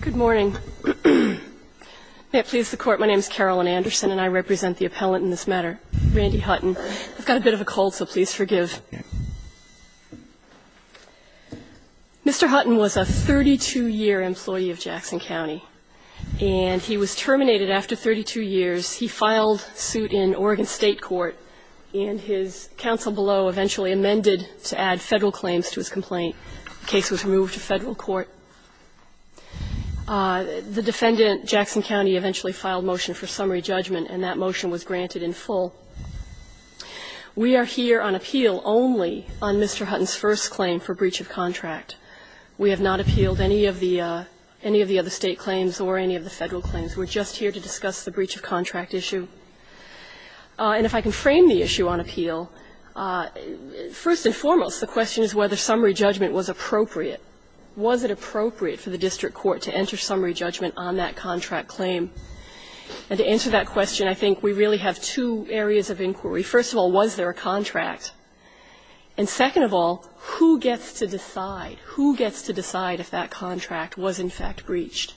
Good morning. May it please the Court, my name is Carolyn Anderson, and I represent the appellant in this matter, Randy Hutton. I've got a bit of a cold, so please forgive. Mr. Hutton was a 32-year employee of Jackson County, and he was terminated after 32 years. He filed suit in Oregon State Court, and his counsel below eventually amended to add Federal claims to his complaint. The case was removed to Federal court. The defendant, Jackson County, eventually filed motion for summary judgment, and that motion was granted in full. We are here on appeal only on Mr. Hutton's first claim for breach of contract. We have not appealed any of the other State claims or any of the Federal claims. We're just here to discuss the breach of contract issue. And if I can frame the issue on appeal, first and foremost, the question is whether summary judgment was appropriate. Was it appropriate for the district court to enter summary judgment on that contract claim? And to answer that question, I think we really have two areas of inquiry. First of all, was there a contract? And second of all, who gets to decide? Who gets to decide if that contract was, in fact, breached?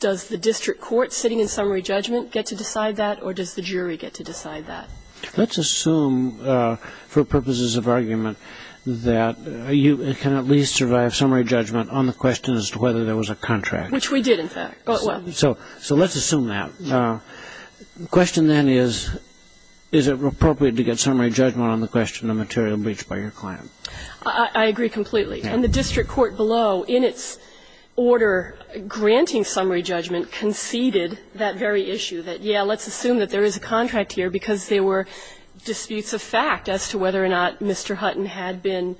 Does the district court sitting in summary judgment get to decide that, or does the jury get to decide that? Let's assume, for purposes of argument, that you can at least survive summary judgment on the question as to whether there was a contract. Which we did, in fact. So let's assume that. The question, then, is, is it appropriate to get summary judgment on the question of material breach by your client? I agree completely. And the district court below, in its order granting summary judgment, conceded that very issue, that, yeah, let's assume that there is a contract here, because there were disputes of fact as to whether or not Mr. Hutton had been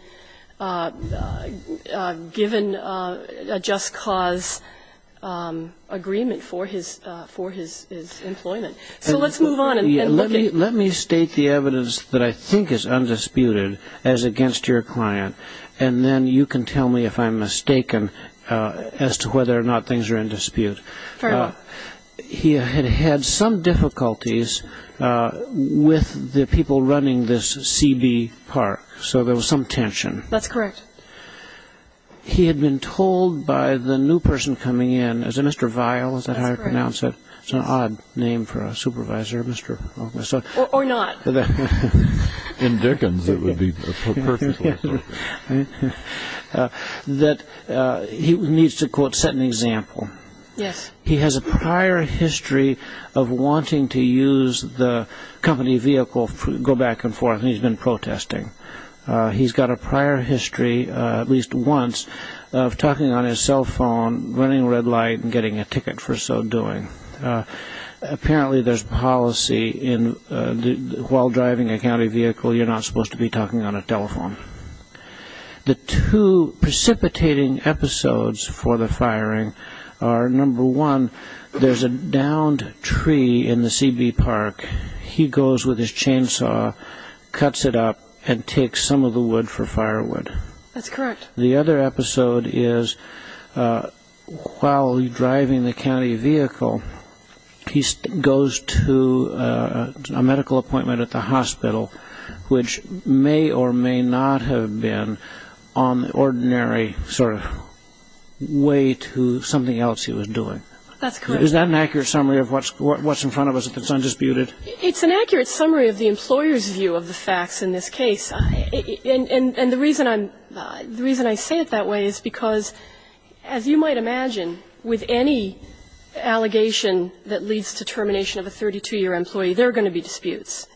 given a just cause agreement for his, for his employment. So let's move on and look at. Let me state the evidence that I think is undisputed as against your client, and then you can tell me if I'm mistaken as to whether or not things are in dispute. Fair enough. He had had some difficulties with the people running this CB Park. So there was some tension. That's correct. He had been told by the new person coming in, is it Mr. Vial, is that how you pronounce it? It's an odd name for a supervisor. Or not. In Dickens, it would be perfectly appropriate. That he needs to, quote, set an example. Yes. He has a prior history of wanting to use the company vehicle, go back and forth, and he's been protesting. He's got a prior history, at least once, of talking on his cell phone, running red light, and getting a ticket for so doing. Apparently there's policy in, while driving a county vehicle, you're not supposed to be talking on a telephone. The two precipitating episodes for the firing are, number one, there's a downed tree in the CB Park. He goes with his chainsaw, cuts it up, and takes some of the wood for firewood. That's correct. The other episode is, while driving the county vehicle, he goes to a medical appointment at the hospital, which may or may not have been on the ordinary sort of way to something else he was doing. That's correct. Is that an accurate summary of what's in front of us if it's undisputed? It's an accurate summary of the employer's view of the facts in this case. And the reason I say it that way is because, as you might imagine, with any allegation that leads to termination of a 32-year employee, there are going to be disputes,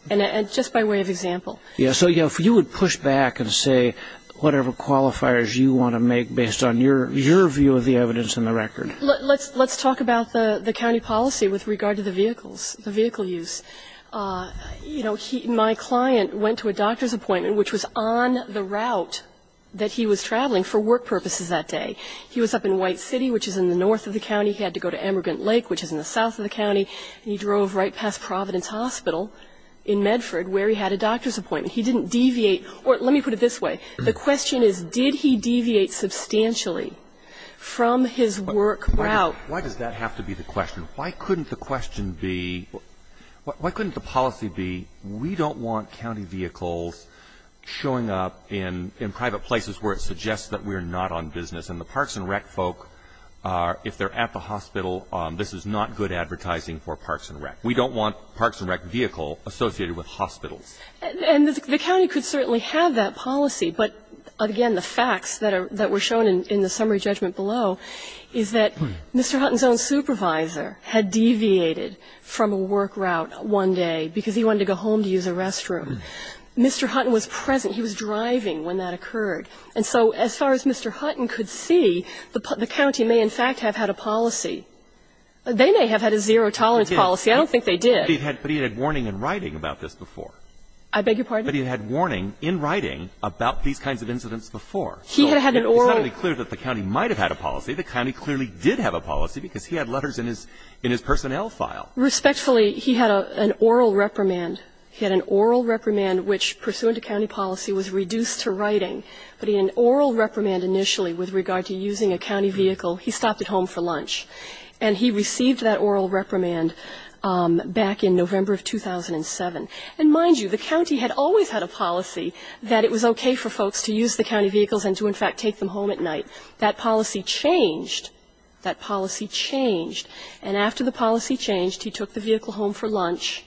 just by way of example. So if you would push back and say whatever qualifiers you want to make based on your view of the evidence and the record. Let's talk about the county policy with regard to the vehicles, the vehicle use. My client went to a doctor's appointment, which was on the route that he was traveling for work purposes that day. He was up in White City, which is in the north of the county. He had to go to Emmergant Lake, which is in the south of the county. And he drove right past Providence Hospital in Medford, where he had a doctor's appointment. He didn't deviate. Or let me put it this way. The question is, did he deviate substantially from his work route? Why does that have to be the question? Why couldn't the question be why couldn't the policy be we don't want county vehicles showing up in private places where it suggests that we're not on business. And the parks and rec folk are, if they're at the hospital, this is not good advertising for parks and rec. We don't want parks and rec vehicle associated with hospitals. And the county could certainly have that policy. But, again, the facts that were shown in the summary judgment below is that Mr. Hutton's own supervisor had deviated from a work route one day because he wanted to go home to use a restroom. Mr. Hutton was present. He was driving when that occurred. And so as far as Mr. Hutton could see, the county may in fact have had a policy. They may have had a zero-tolerance policy. I don't think they did. But he had warning in writing about this before. I beg your pardon? But he had warning in writing about these kinds of incidents before. He had had an oral. It's not only clear that the county might have had a policy, the county clearly did have a policy because he had letters in his personnel file. Respectfully, he had an oral reprimand. He had an oral reprimand which, pursuant to county policy, was reduced to writing. But he had an oral reprimand initially with regard to using a county vehicle. He stopped at home for lunch. And he received that oral reprimand back in November of 2007. And mind you, the county had always had a policy that it was okay for folks to use the county vehicles and to in fact take them home at night. That policy changed. That policy changed. And after the policy changed, he took the vehicle home for lunch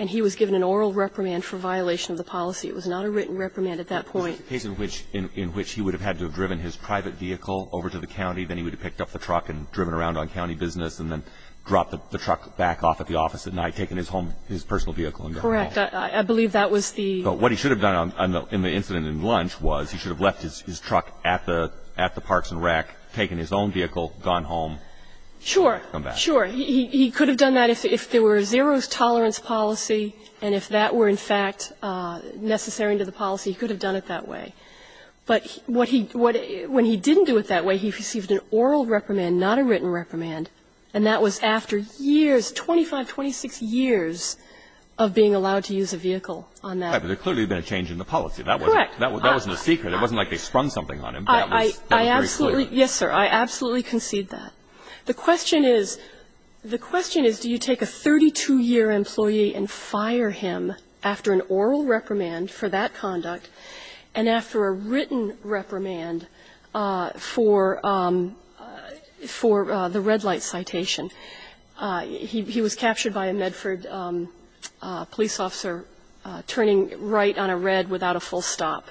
and he was given an oral reprimand for violation of the policy. It was not a written reprimand at that point. In which he would have had to have driven his private vehicle over to the county, then he would have picked up the truck and driven around on county business and then dropped the truck back off at the office at night, taken his home, his personal vehicle and gone home. Correct. I believe that was the ---- But what he should have done in the incident at lunch was he should have left his truck at the parks and rec, taken his own vehicle, gone home. Sure. Sure. He could have done that if there were a zero tolerance policy and if that were in the policy, he could have done it that way. But what he, when he didn't do it that way, he received an oral reprimand, not a written reprimand, and that was after years, 25, 26 years of being allowed to use a vehicle on that. But there clearly had been a change in the policy. Correct. That wasn't a secret. It wasn't like they sprung something on him. I absolutely, yes, sir. I absolutely concede that. The question is, the question is, do you take a 32-year employee and fire him after an oral reprimand for that conduct and after a written reprimand for the red light citation? He was captured by a Medford police officer turning right on a red without a full stop.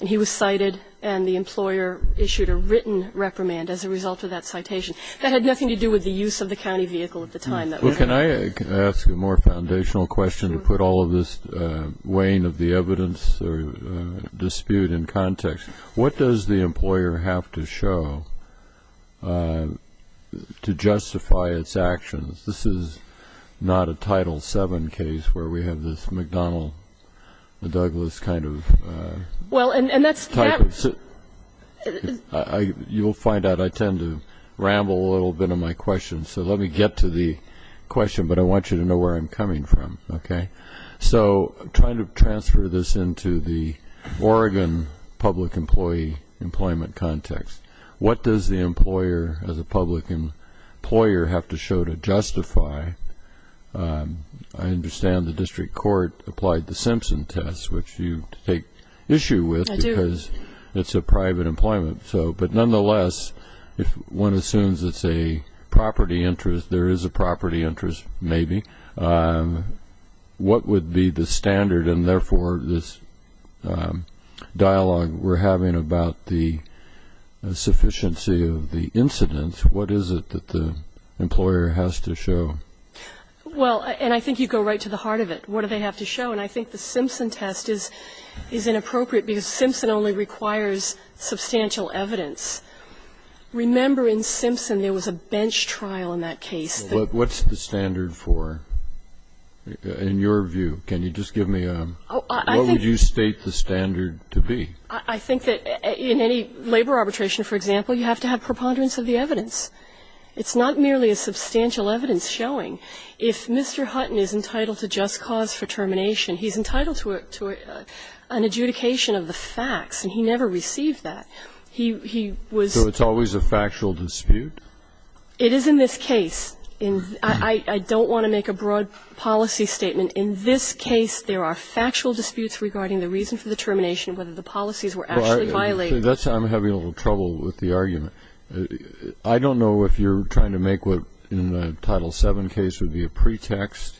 And he was cited and the employer issued a written reprimand as a result of that citation. That had nothing to do with the use of the county vehicle at the time. Well, can I ask a more foundational question to put all of this weighing of the evidence or dispute in context? What does the employer have to show to justify its actions? This is not a Title VII case where we have this McDonnell-Douglas kind of type of situation. Well, and that's... You'll find out I tend to ramble a little bit on my questions. So let me get to the question. But I want you to know where I'm coming from, okay? So trying to transfer this into the Oregon public employee employment context, what does the employer as a public employer have to show to justify? I understand the district court applied the Simpson test, which you take issue with because it's a private employment. But nonetheless, if one assumes it's a property interest, there is a property interest, maybe. What would be the standard? And therefore, this dialogue we're having about the sufficiency of the incidents, what is it that the employer has to show? Well, and I think you go right to the heart of it. What do they have to show? And I think the Simpson test is inappropriate because Simpson only requires substantial evidence. Remember, in Simpson, there was a bench trial in that case. So what's the standard for, in your view? Can you just give me a... Oh, I think... What would you state the standard to be? I think that in any labor arbitration, for example, you have to have preponderance of the evidence. It's not merely a substantial evidence showing. If Mr. Hutton is entitled to just cause for termination, he's entitled to an adjudication of the facts, and he never received that. He was... So it's always a factual dispute? It is in this case. I don't want to make a broad policy statement. In this case, there are factual disputes regarding the reason for the termination and whether the policies were actually violated. That's why I'm having a little trouble with the argument. I don't know if you're trying to make what in the Title VII case would be a pretext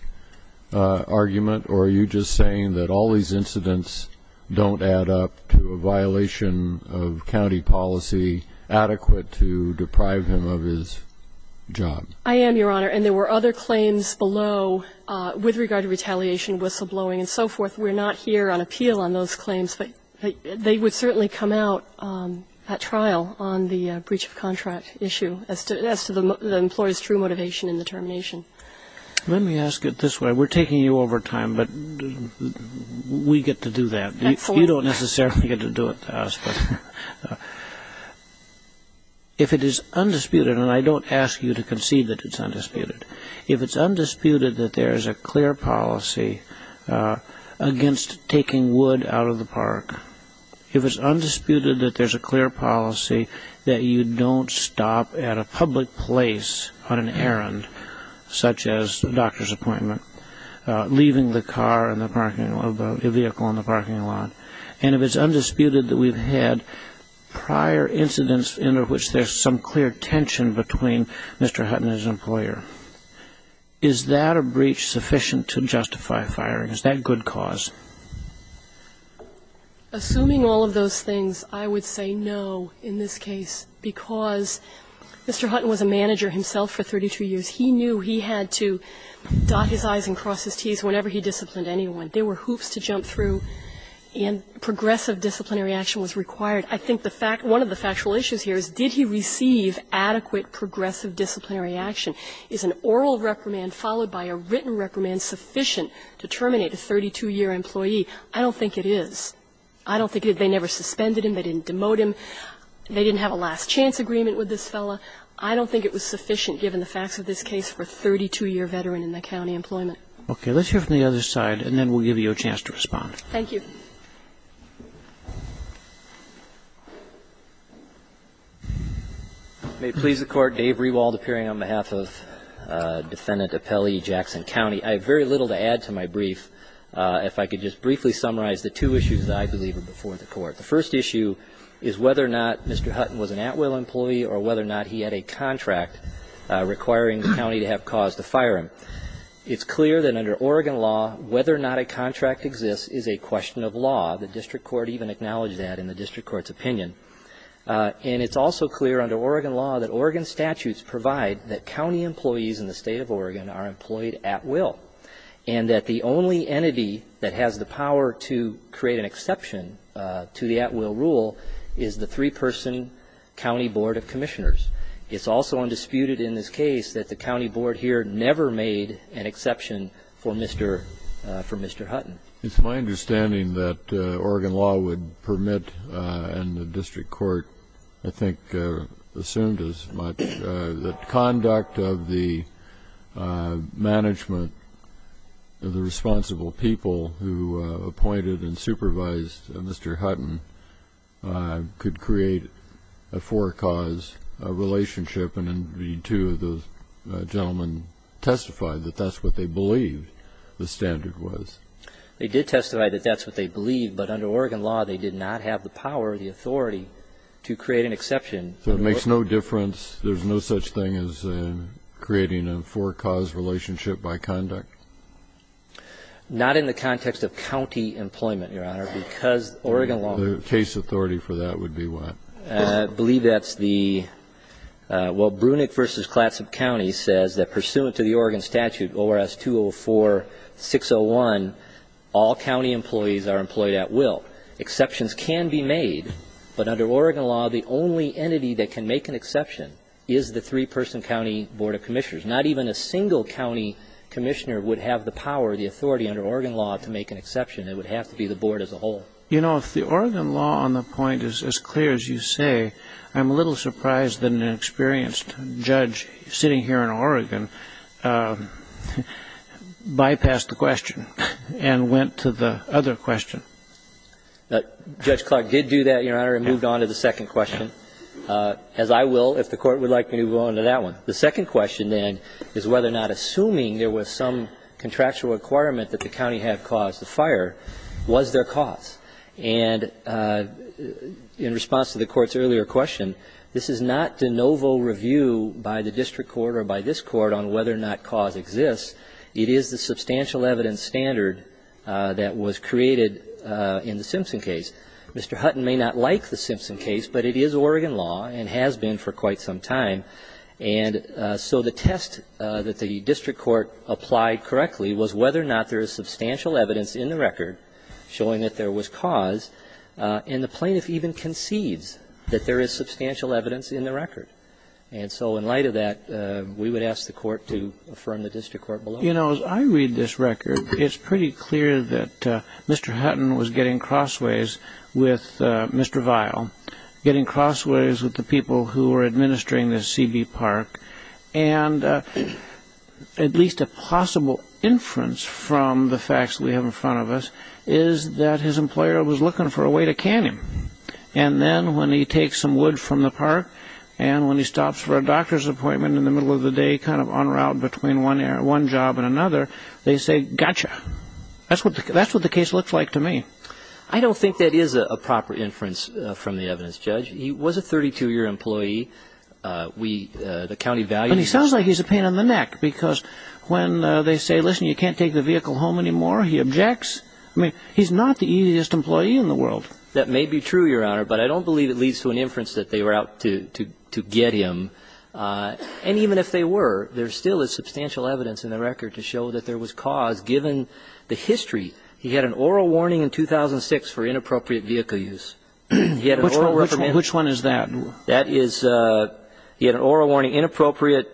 argument, or are you just saying that all these incidents don't add up to a violation of county policy adequate to deprive him of his job? I am, Your Honor. And there were other claims below with regard to retaliation, whistleblowing and so forth. We're not here on appeal on those claims, but they would certainly come out at trial on the breach of contract issue as to the employee's true motivation in the termination. Let me ask it this way. We're taking you over time, but we get to do that. You don't necessarily get to do it to us. If it is undisputed, and I don't ask you to concede that it's undisputed, if it's undisputed that there is a clear policy against taking wood out of the park, if it's undisputed that there's a clear policy that you don't stop at a public place on an errand, such as a doctor's appointment, leaving the vehicle in the parking lot, and if it's undisputed that we've had prior incidents in which there's some clear tension between Mr. Hutton and his employer, is that a breach sufficient to justify firing? Is that a good cause? Assuming all of those things, I would say no in this case, because Mr. Hutton was a manager himself for 32 years. He knew he had to dot his I's and cross his T's whenever he disciplined anyone. There were hoops to jump through, and progressive disciplinary action was required. I think one of the factual issues here is did he receive adequate progressive disciplinary action? Is an oral reprimand followed by a written reprimand sufficient to terminate a 32-year employee? I don't think it is. I don't think they never suspended him. They didn't demote him. They didn't have a last chance agreement with this fellow. I don't think it was sufficient, given the facts of this case, for a 32-year veteran in the county employment. Okay. Let's hear from the other side, and then we'll give you a chance to respond. Thank you. May it please the Court. Dave Rewald appearing on behalf of Defendant Apelli Jackson County. I have very little to add to my brief. If I could just briefly summarize the two issues that I believe are before the Court. The first issue is whether or not Mr. Hutton was an at-will employee or whether or not he had a contract requiring the county to have cause to fire him. It's clear that under Oregon law, whether or not a contract exists is a question of law. The district court even acknowledged that in the district court's opinion. And it's also clear under Oregon law that Oregon statutes provide that county employees in the state of Oregon are employed at will, and that the only entity that has the power to create an exception to the at-will rule is the three-person county board of commissioners. It's also undisputed in this case that the county board here never made an exception for Mr. Hutton. It's my understanding that Oregon law would permit, and the district court I think assumed as much, that conduct of the management of the responsible people who appointed and supervised Mr. Hutton could create a for-cause relationship. And indeed, two of those gentlemen testified that that's what they believed the standard was. They did testify that that's what they believed, but under Oregon law, they did not have the power or the authority to create an exception. So it makes no difference? There's no such thing as creating a for-cause relationship by conduct? Not in the context of county employment, Your Honor, because Oregon law ---- The case authority for that would be what? I believe that's the ---- well, Brunick v. Clatsop County says that pursuant to the Oregon statute, ORS 204-601, all county employees are employed at will. Exceptions can be made, but under Oregon law, the only entity that can make an exception is the three-person county board of commissioners. Not even a single county commissioner would have the power, the authority under Oregon law to make an exception. It would have to be the board as a whole. You know, if the Oregon law on the point is as clear as you say, I'm a little surprised that an experienced judge sitting here in Oregon bypassed the question and went to the other question. Judge Clark did do that, Your Honor, and moved on to the second question, as I will if the Court would like me to move on to that one. The second question, then, is whether or not assuming there was some contractual requirement that the county have cause to fire, was there cause? And in response to the Court's earlier question, this is not de novo review by the district court or by this Court on whether or not cause exists. It is the substantial evidence standard that was created in the Simpson case. Mr. Hutton may not like the Simpson case, but it is Oregon law and has been for quite some time. And so the test that the district court applied correctly was whether or not there is substantial evidence in the record showing that there was cause. And the plaintiff even concedes that there is substantial evidence in the record. And so in light of that, we would ask the Court to affirm the district court below. You know, as I read this record, it's pretty clear that Mr. Hutton was getting crossways with Mr. Vile, getting crossways with the people who were administering the CB Park. And at least a possible inference from the facts we have in front of us is that his employer was looking for a way to can him. And then when he takes some wood from the park and when he stops for a doctor's appointment in the middle of the day, kind of en route between one job and another, they say, gotcha. That's what the case looks like to me. I don't think that is a proper inference from the evidence, Judge. He was a 32-year employee. We, the county values him. But he sounds like he's a pain in the neck, because when they say, listen, you can't take the vehicle home anymore, he objects. I mean, he's not the easiest employee in the world. That may be true, Your Honor, but I don't believe it leads to an inference that they were out to get him. And even if they were, there's still substantial evidence in the record to show that there was cause, given the history. He had an oral warning in 2006 for inappropriate vehicle use. He had an oral reprimand. Which one is that? That is he had an oral warning, inappropriate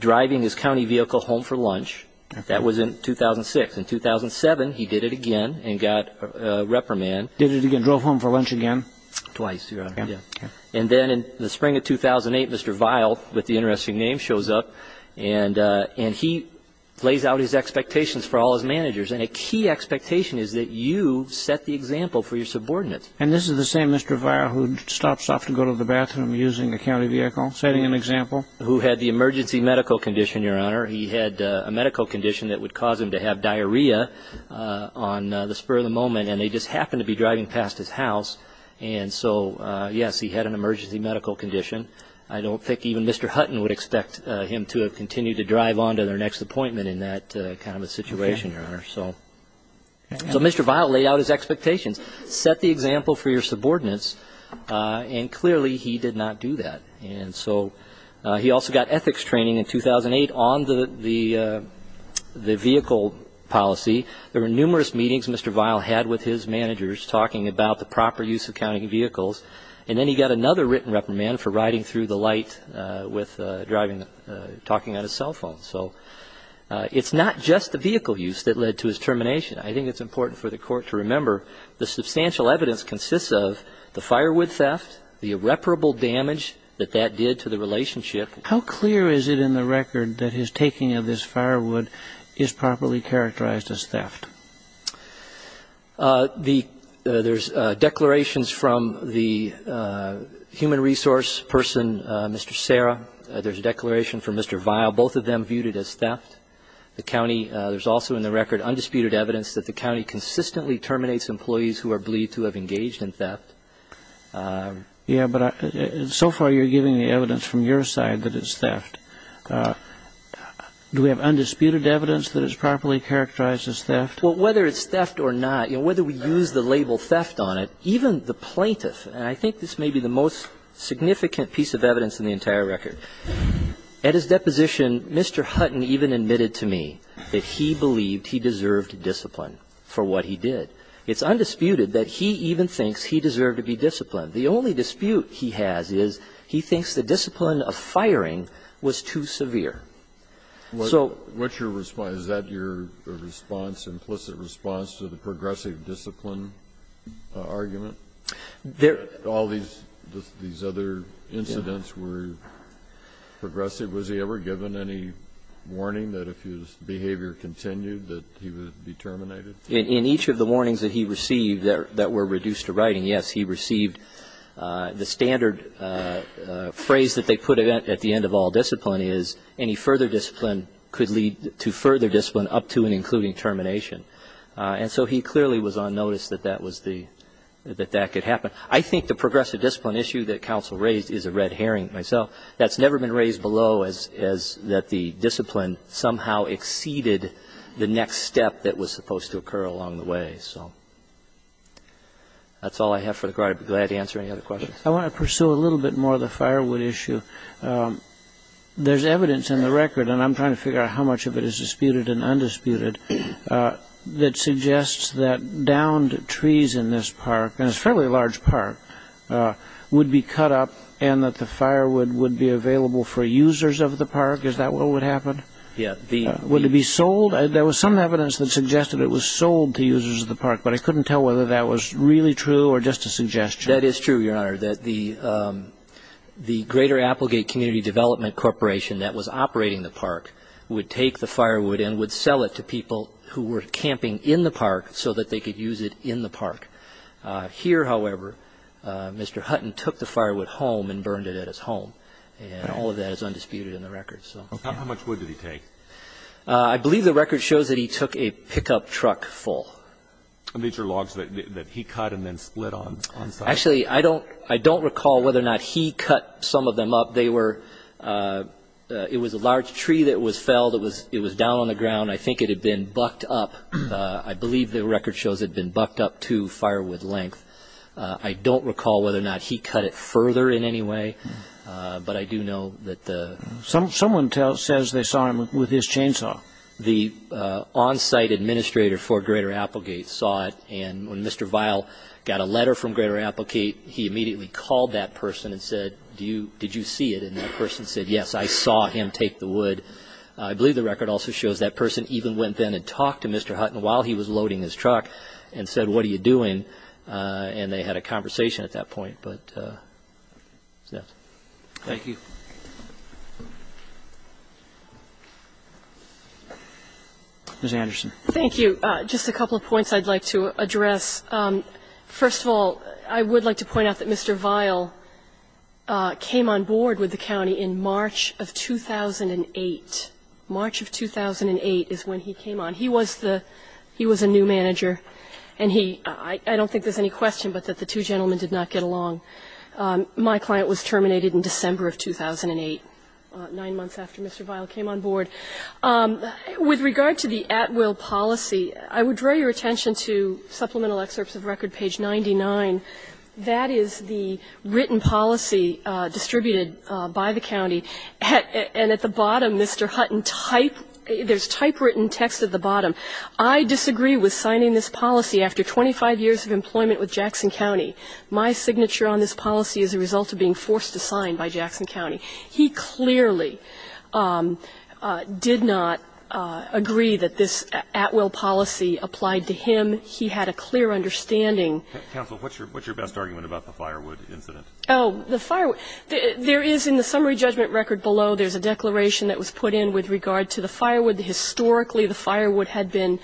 driving his county vehicle home for lunch. That was in 2006. In 2007, he did it again and got reprimanded. Did it again, drove home for lunch again? Twice, Your Honor. And then in the spring of 2008, Mr. Vile, with the interesting name, shows up, and he lays out his expectations for all his managers. And a key expectation is that you set the example for your subordinates. And this is the same Mr. Vile who stops off to go to the bathroom using a county vehicle, setting an example? Who had the emergency medical condition, Your Honor. He had a medical condition that would cause him to have diarrhea on the spur of the moment, and they just happened to be driving past his house. And so, yes, he had an emergency medical condition. I don't think even Mr. Hutton would expect him to have continued to drive on to their next appointment in that kind of a situation, Your Honor. So Mr. Vile laid out his expectations, set the example for your subordinates, and clearly he did not do that. And so he also got ethics training in 2008 on the vehicle policy. There were numerous meetings Mr. Vile had with his managers talking about the proper use of county vehicles. And then he got another written reprimand for riding through the light talking on his cell phone. So it's not just the vehicle use that led to his termination. I think it's important for the Court to remember the substantial evidence consists of the firewood theft, the irreparable damage that that did to the relationship. How clear is it in the record that his taking of this firewood is properly characterized as theft? There's declarations from the human resource person, Mr. Serra. There's a declaration from Mr. Vile. Both of them viewed it as theft. The county, there's also in the record undisputed evidence that the county consistently terminates employees who are believed to have engaged in theft. Yes, but so far you're giving the evidence from your side that it's theft. Do we have undisputed evidence that it's properly characterized as theft? Well, whether it's theft or not, whether we use the label theft on it, even the plaintiff, and I think this may be the most significant piece of evidence in the entire record, at his deposition Mr. Hutton even admitted to me that he believed he deserved discipline for what he did. It's undisputed that he even thinks he deserved to be disciplined. The only dispute he has is he thinks the discipline of firing was too severe. What's your response? Is that your response, implicit response to the progressive discipline argument? All these other incidents were progressive. Was he ever given any warning that if his behavior continued that he would be terminated? In each of the warnings that he received that were reduced to writing, yes, he received the standard phrase that they put at the end of all discipline is any further discipline could lead to further discipline up to and including termination. And so he clearly was on notice that that was the, that that could happen. I think the progressive discipline issue that counsel raised is a red herring myself. That's never been raised below as that the discipline somehow exceeded the next step that was supposed to occur along the way. So that's all I have for the court. I'd be glad to answer any other questions. I want to pursue a little bit more of the firewood issue. There's evidence in the record, and I'm trying to figure out how much of it is disputed and undisputed, that suggests that downed trees in this park, and it's a fairly large park, would be cut up and that the firewood would be available for users of the park. Is that what would happen? Yeah. Would it be sold? There was some evidence that suggested it was sold to users of the park, but I couldn't tell whether that was really true or just a suggestion. That is true, Your Honor, that the Greater Applegate Community Development Corporation that was operating the park would take the firewood and would sell it to people who were camping in the park so that they could use it in the park. Here, however, Mr. Hutton took the firewood home and burned it at his home, and all of that is undisputed in the record. How much wood did he take? I believe the record shows that he took a pickup truck full. These are logs that he cut and then split on site? Actually, I don't recall whether or not he cut some of them up. It was a large tree that was felled. It was down on the ground. I think it had been bucked up. I believe the record shows it had been bucked up to firewood length. I don't recall whether or not he cut it further in any way, but I do know that the... Someone says they saw him with his chainsaw. The on-site administrator for Greater Applegate saw it, and when Mr. Vile got a letter from Greater Applegate, he immediately called that person and said, did you see it? I believe the record also shows that person even went then and talked to Mr. Hutton while he was loading his truck and said, what are you doing? And they had a conversation at that point, but that's it. Thank you. Ms. Anderson. Thank you. Just a couple of points I'd like to address. First of all, I would like to point out that Mr. Vile came on board with the county in March of 2008. March of 2008 is when he came on. He was the new manager, and he – I don't think there's any question but that the two gentlemen did not get along. My client was terminated in December of 2008, nine months after Mr. Vile came on board. With regard to the at-will policy, I would draw your attention to supplemental excerpts of record page 99. That is the written policy distributed by the county, and at the bottom, Mr. Hutton, there's typewritten text at the bottom. I disagree with signing this policy after 25 years of employment with Jackson County. My signature on this policy is a result of being forced to sign by Jackson County. He clearly did not agree that this at-will policy applied to him. He had a clear understanding. Counsel, what's your best argument about the firewood incident? Oh, the firewood. There is, in the summary judgment record below, there's a declaration that was put in with regard to the firewood. Historically, the firewood had been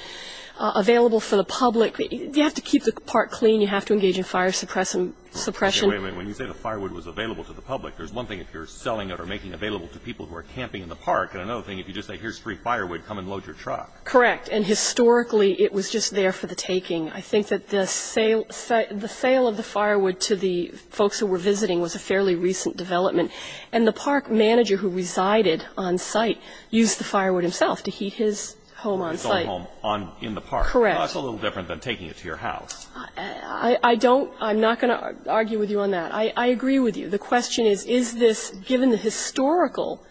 available for the public. You have to keep the park clean. You have to engage in fire suppression. Wait a minute. When you say the firewood was available to the public, there's one thing if you're selling it or making it available to people who are camping in the park, and another thing if you just say, here's free firewood, come and load your truck. Correct. And historically, it was just there for the taking. I think that the sale of the firewood to the folks who were visiting was a fairly recent development. And the park manager who resided on site used the firewood himself to heat his home on site. His own home in the park. Correct. That's a little different than taking it to your house. I don't, I'm not going to argue with you on that. I agree with you. The question is, is this, given the historical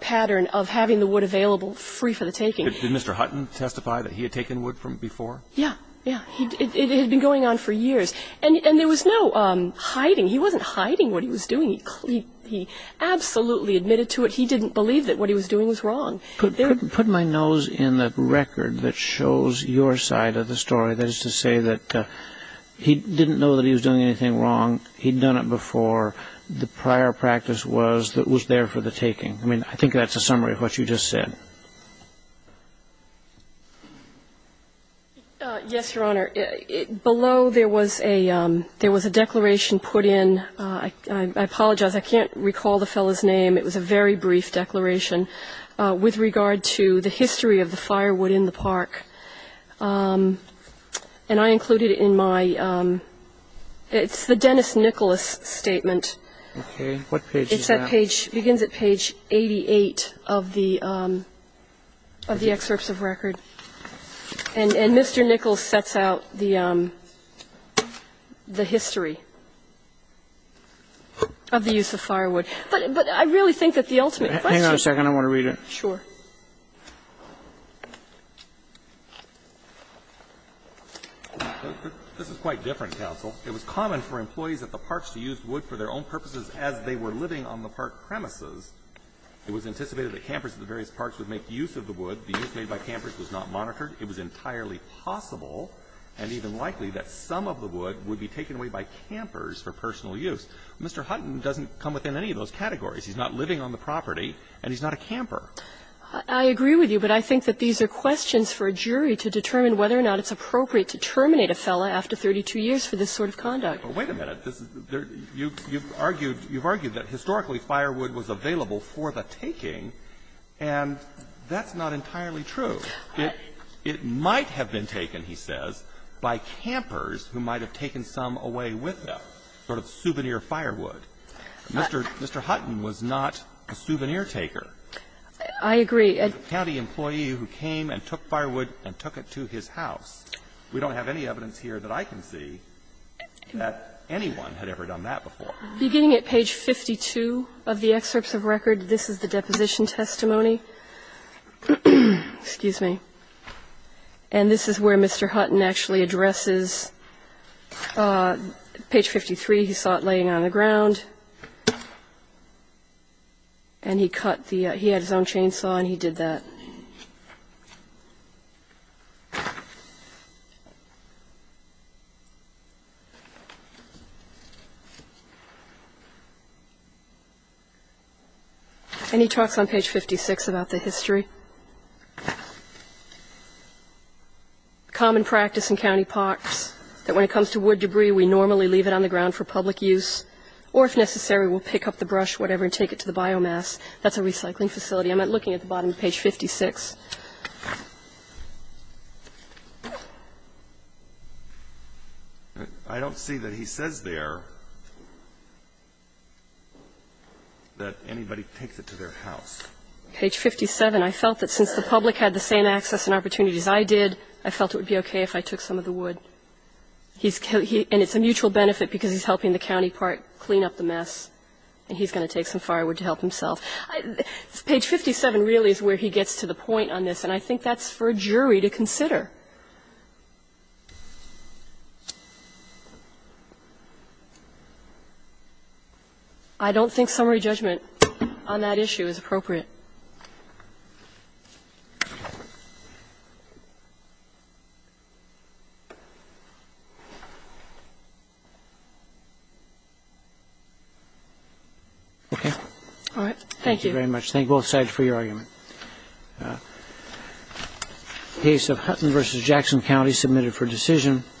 pattern of having the wood available free for the taking. Did Mr. Hutton testify that he had taken wood from before? Yeah, yeah. It had been going on for years. And there was no hiding. He wasn't hiding what he was doing. He absolutely admitted to it. He didn't believe that what he was doing was wrong. Put my nose in the record that shows your side of the story. That is to say that he didn't know that he was doing anything wrong. He'd done it before. The prior practice was that it was there for the taking. I mean, I think that's a summary of what you just said. Yes, Your Honor. Below there was a declaration put in, I apologize, I can't recall the fellow's name. It was a very brief declaration. With regard to the history of the firewood in the park. And I included it in my, it's the Dennis Nicholas statement. Okay. What page is that? It begins at page 88 of the excerpts of record. And Mr. Nicholas sets out the history of the use of firewood. But I really think that the ultimate question. Hang on a second, I want to read it. Sure. This is quite different, counsel. It was common for employees at the parks to use wood for their own purposes as they were living on the park premises. It was anticipated that campers at the various parks would make use of the wood. The use made by campers was not monitored. It was entirely possible and even likely that some of the wood would be taken away by campers for personal use. Mr. Hutton doesn't come within any of those categories. He's not living on the property and he's not a camper. I agree with you, but I think that these are questions for a jury to determine whether or not it's appropriate to terminate a fellow after 32 years for this sort of conduct. But wait a minute. You've argued, you've argued that historically firewood was available for the taking, and that's not entirely true. It might have been taken, he says, by campers who might have taken some away with them, sort of souvenir firewood. Mr. Hutton was not a souvenir taker. I agree. He was a county employee who came and took firewood and took it to his house. We don't have any evidence here that I can see that anyone had ever done that before. Beginning at page 52 of the excerpts of record, this is the deposition testimony. Excuse me. And this is where Mr. Hutton actually addresses page 53. He saw it laying on the ground. And he cut the he had his own chainsaw and he did that. And he talks on page 56 about the history. Common practice in county parks that when it comes to wood debris, we normally leave it on the ground for public use, or if necessary, we'll pick up the brush, whatever, and take it to the biomass. That's a recycling facility. I'm looking at the bottom of page 56. I don't see that he says there that anybody picked it to their house. Page 57. I felt that since the public had the same access and opportunities I did, I felt it would be okay if I took some of the wood. And it's a mutual benefit because he's helping the county park clean up the mess and he's going to take some firewood to help himself. Page 57 really is where he gets to the point on this, and I think that's for a jury to consider. I don't think summary judgment on that issue is appropriate. Okay. All right. Thank you. Thank you very much. Thank both sides for your argument. The case of Hutton v. Jackson County submitted for decision. Thank you.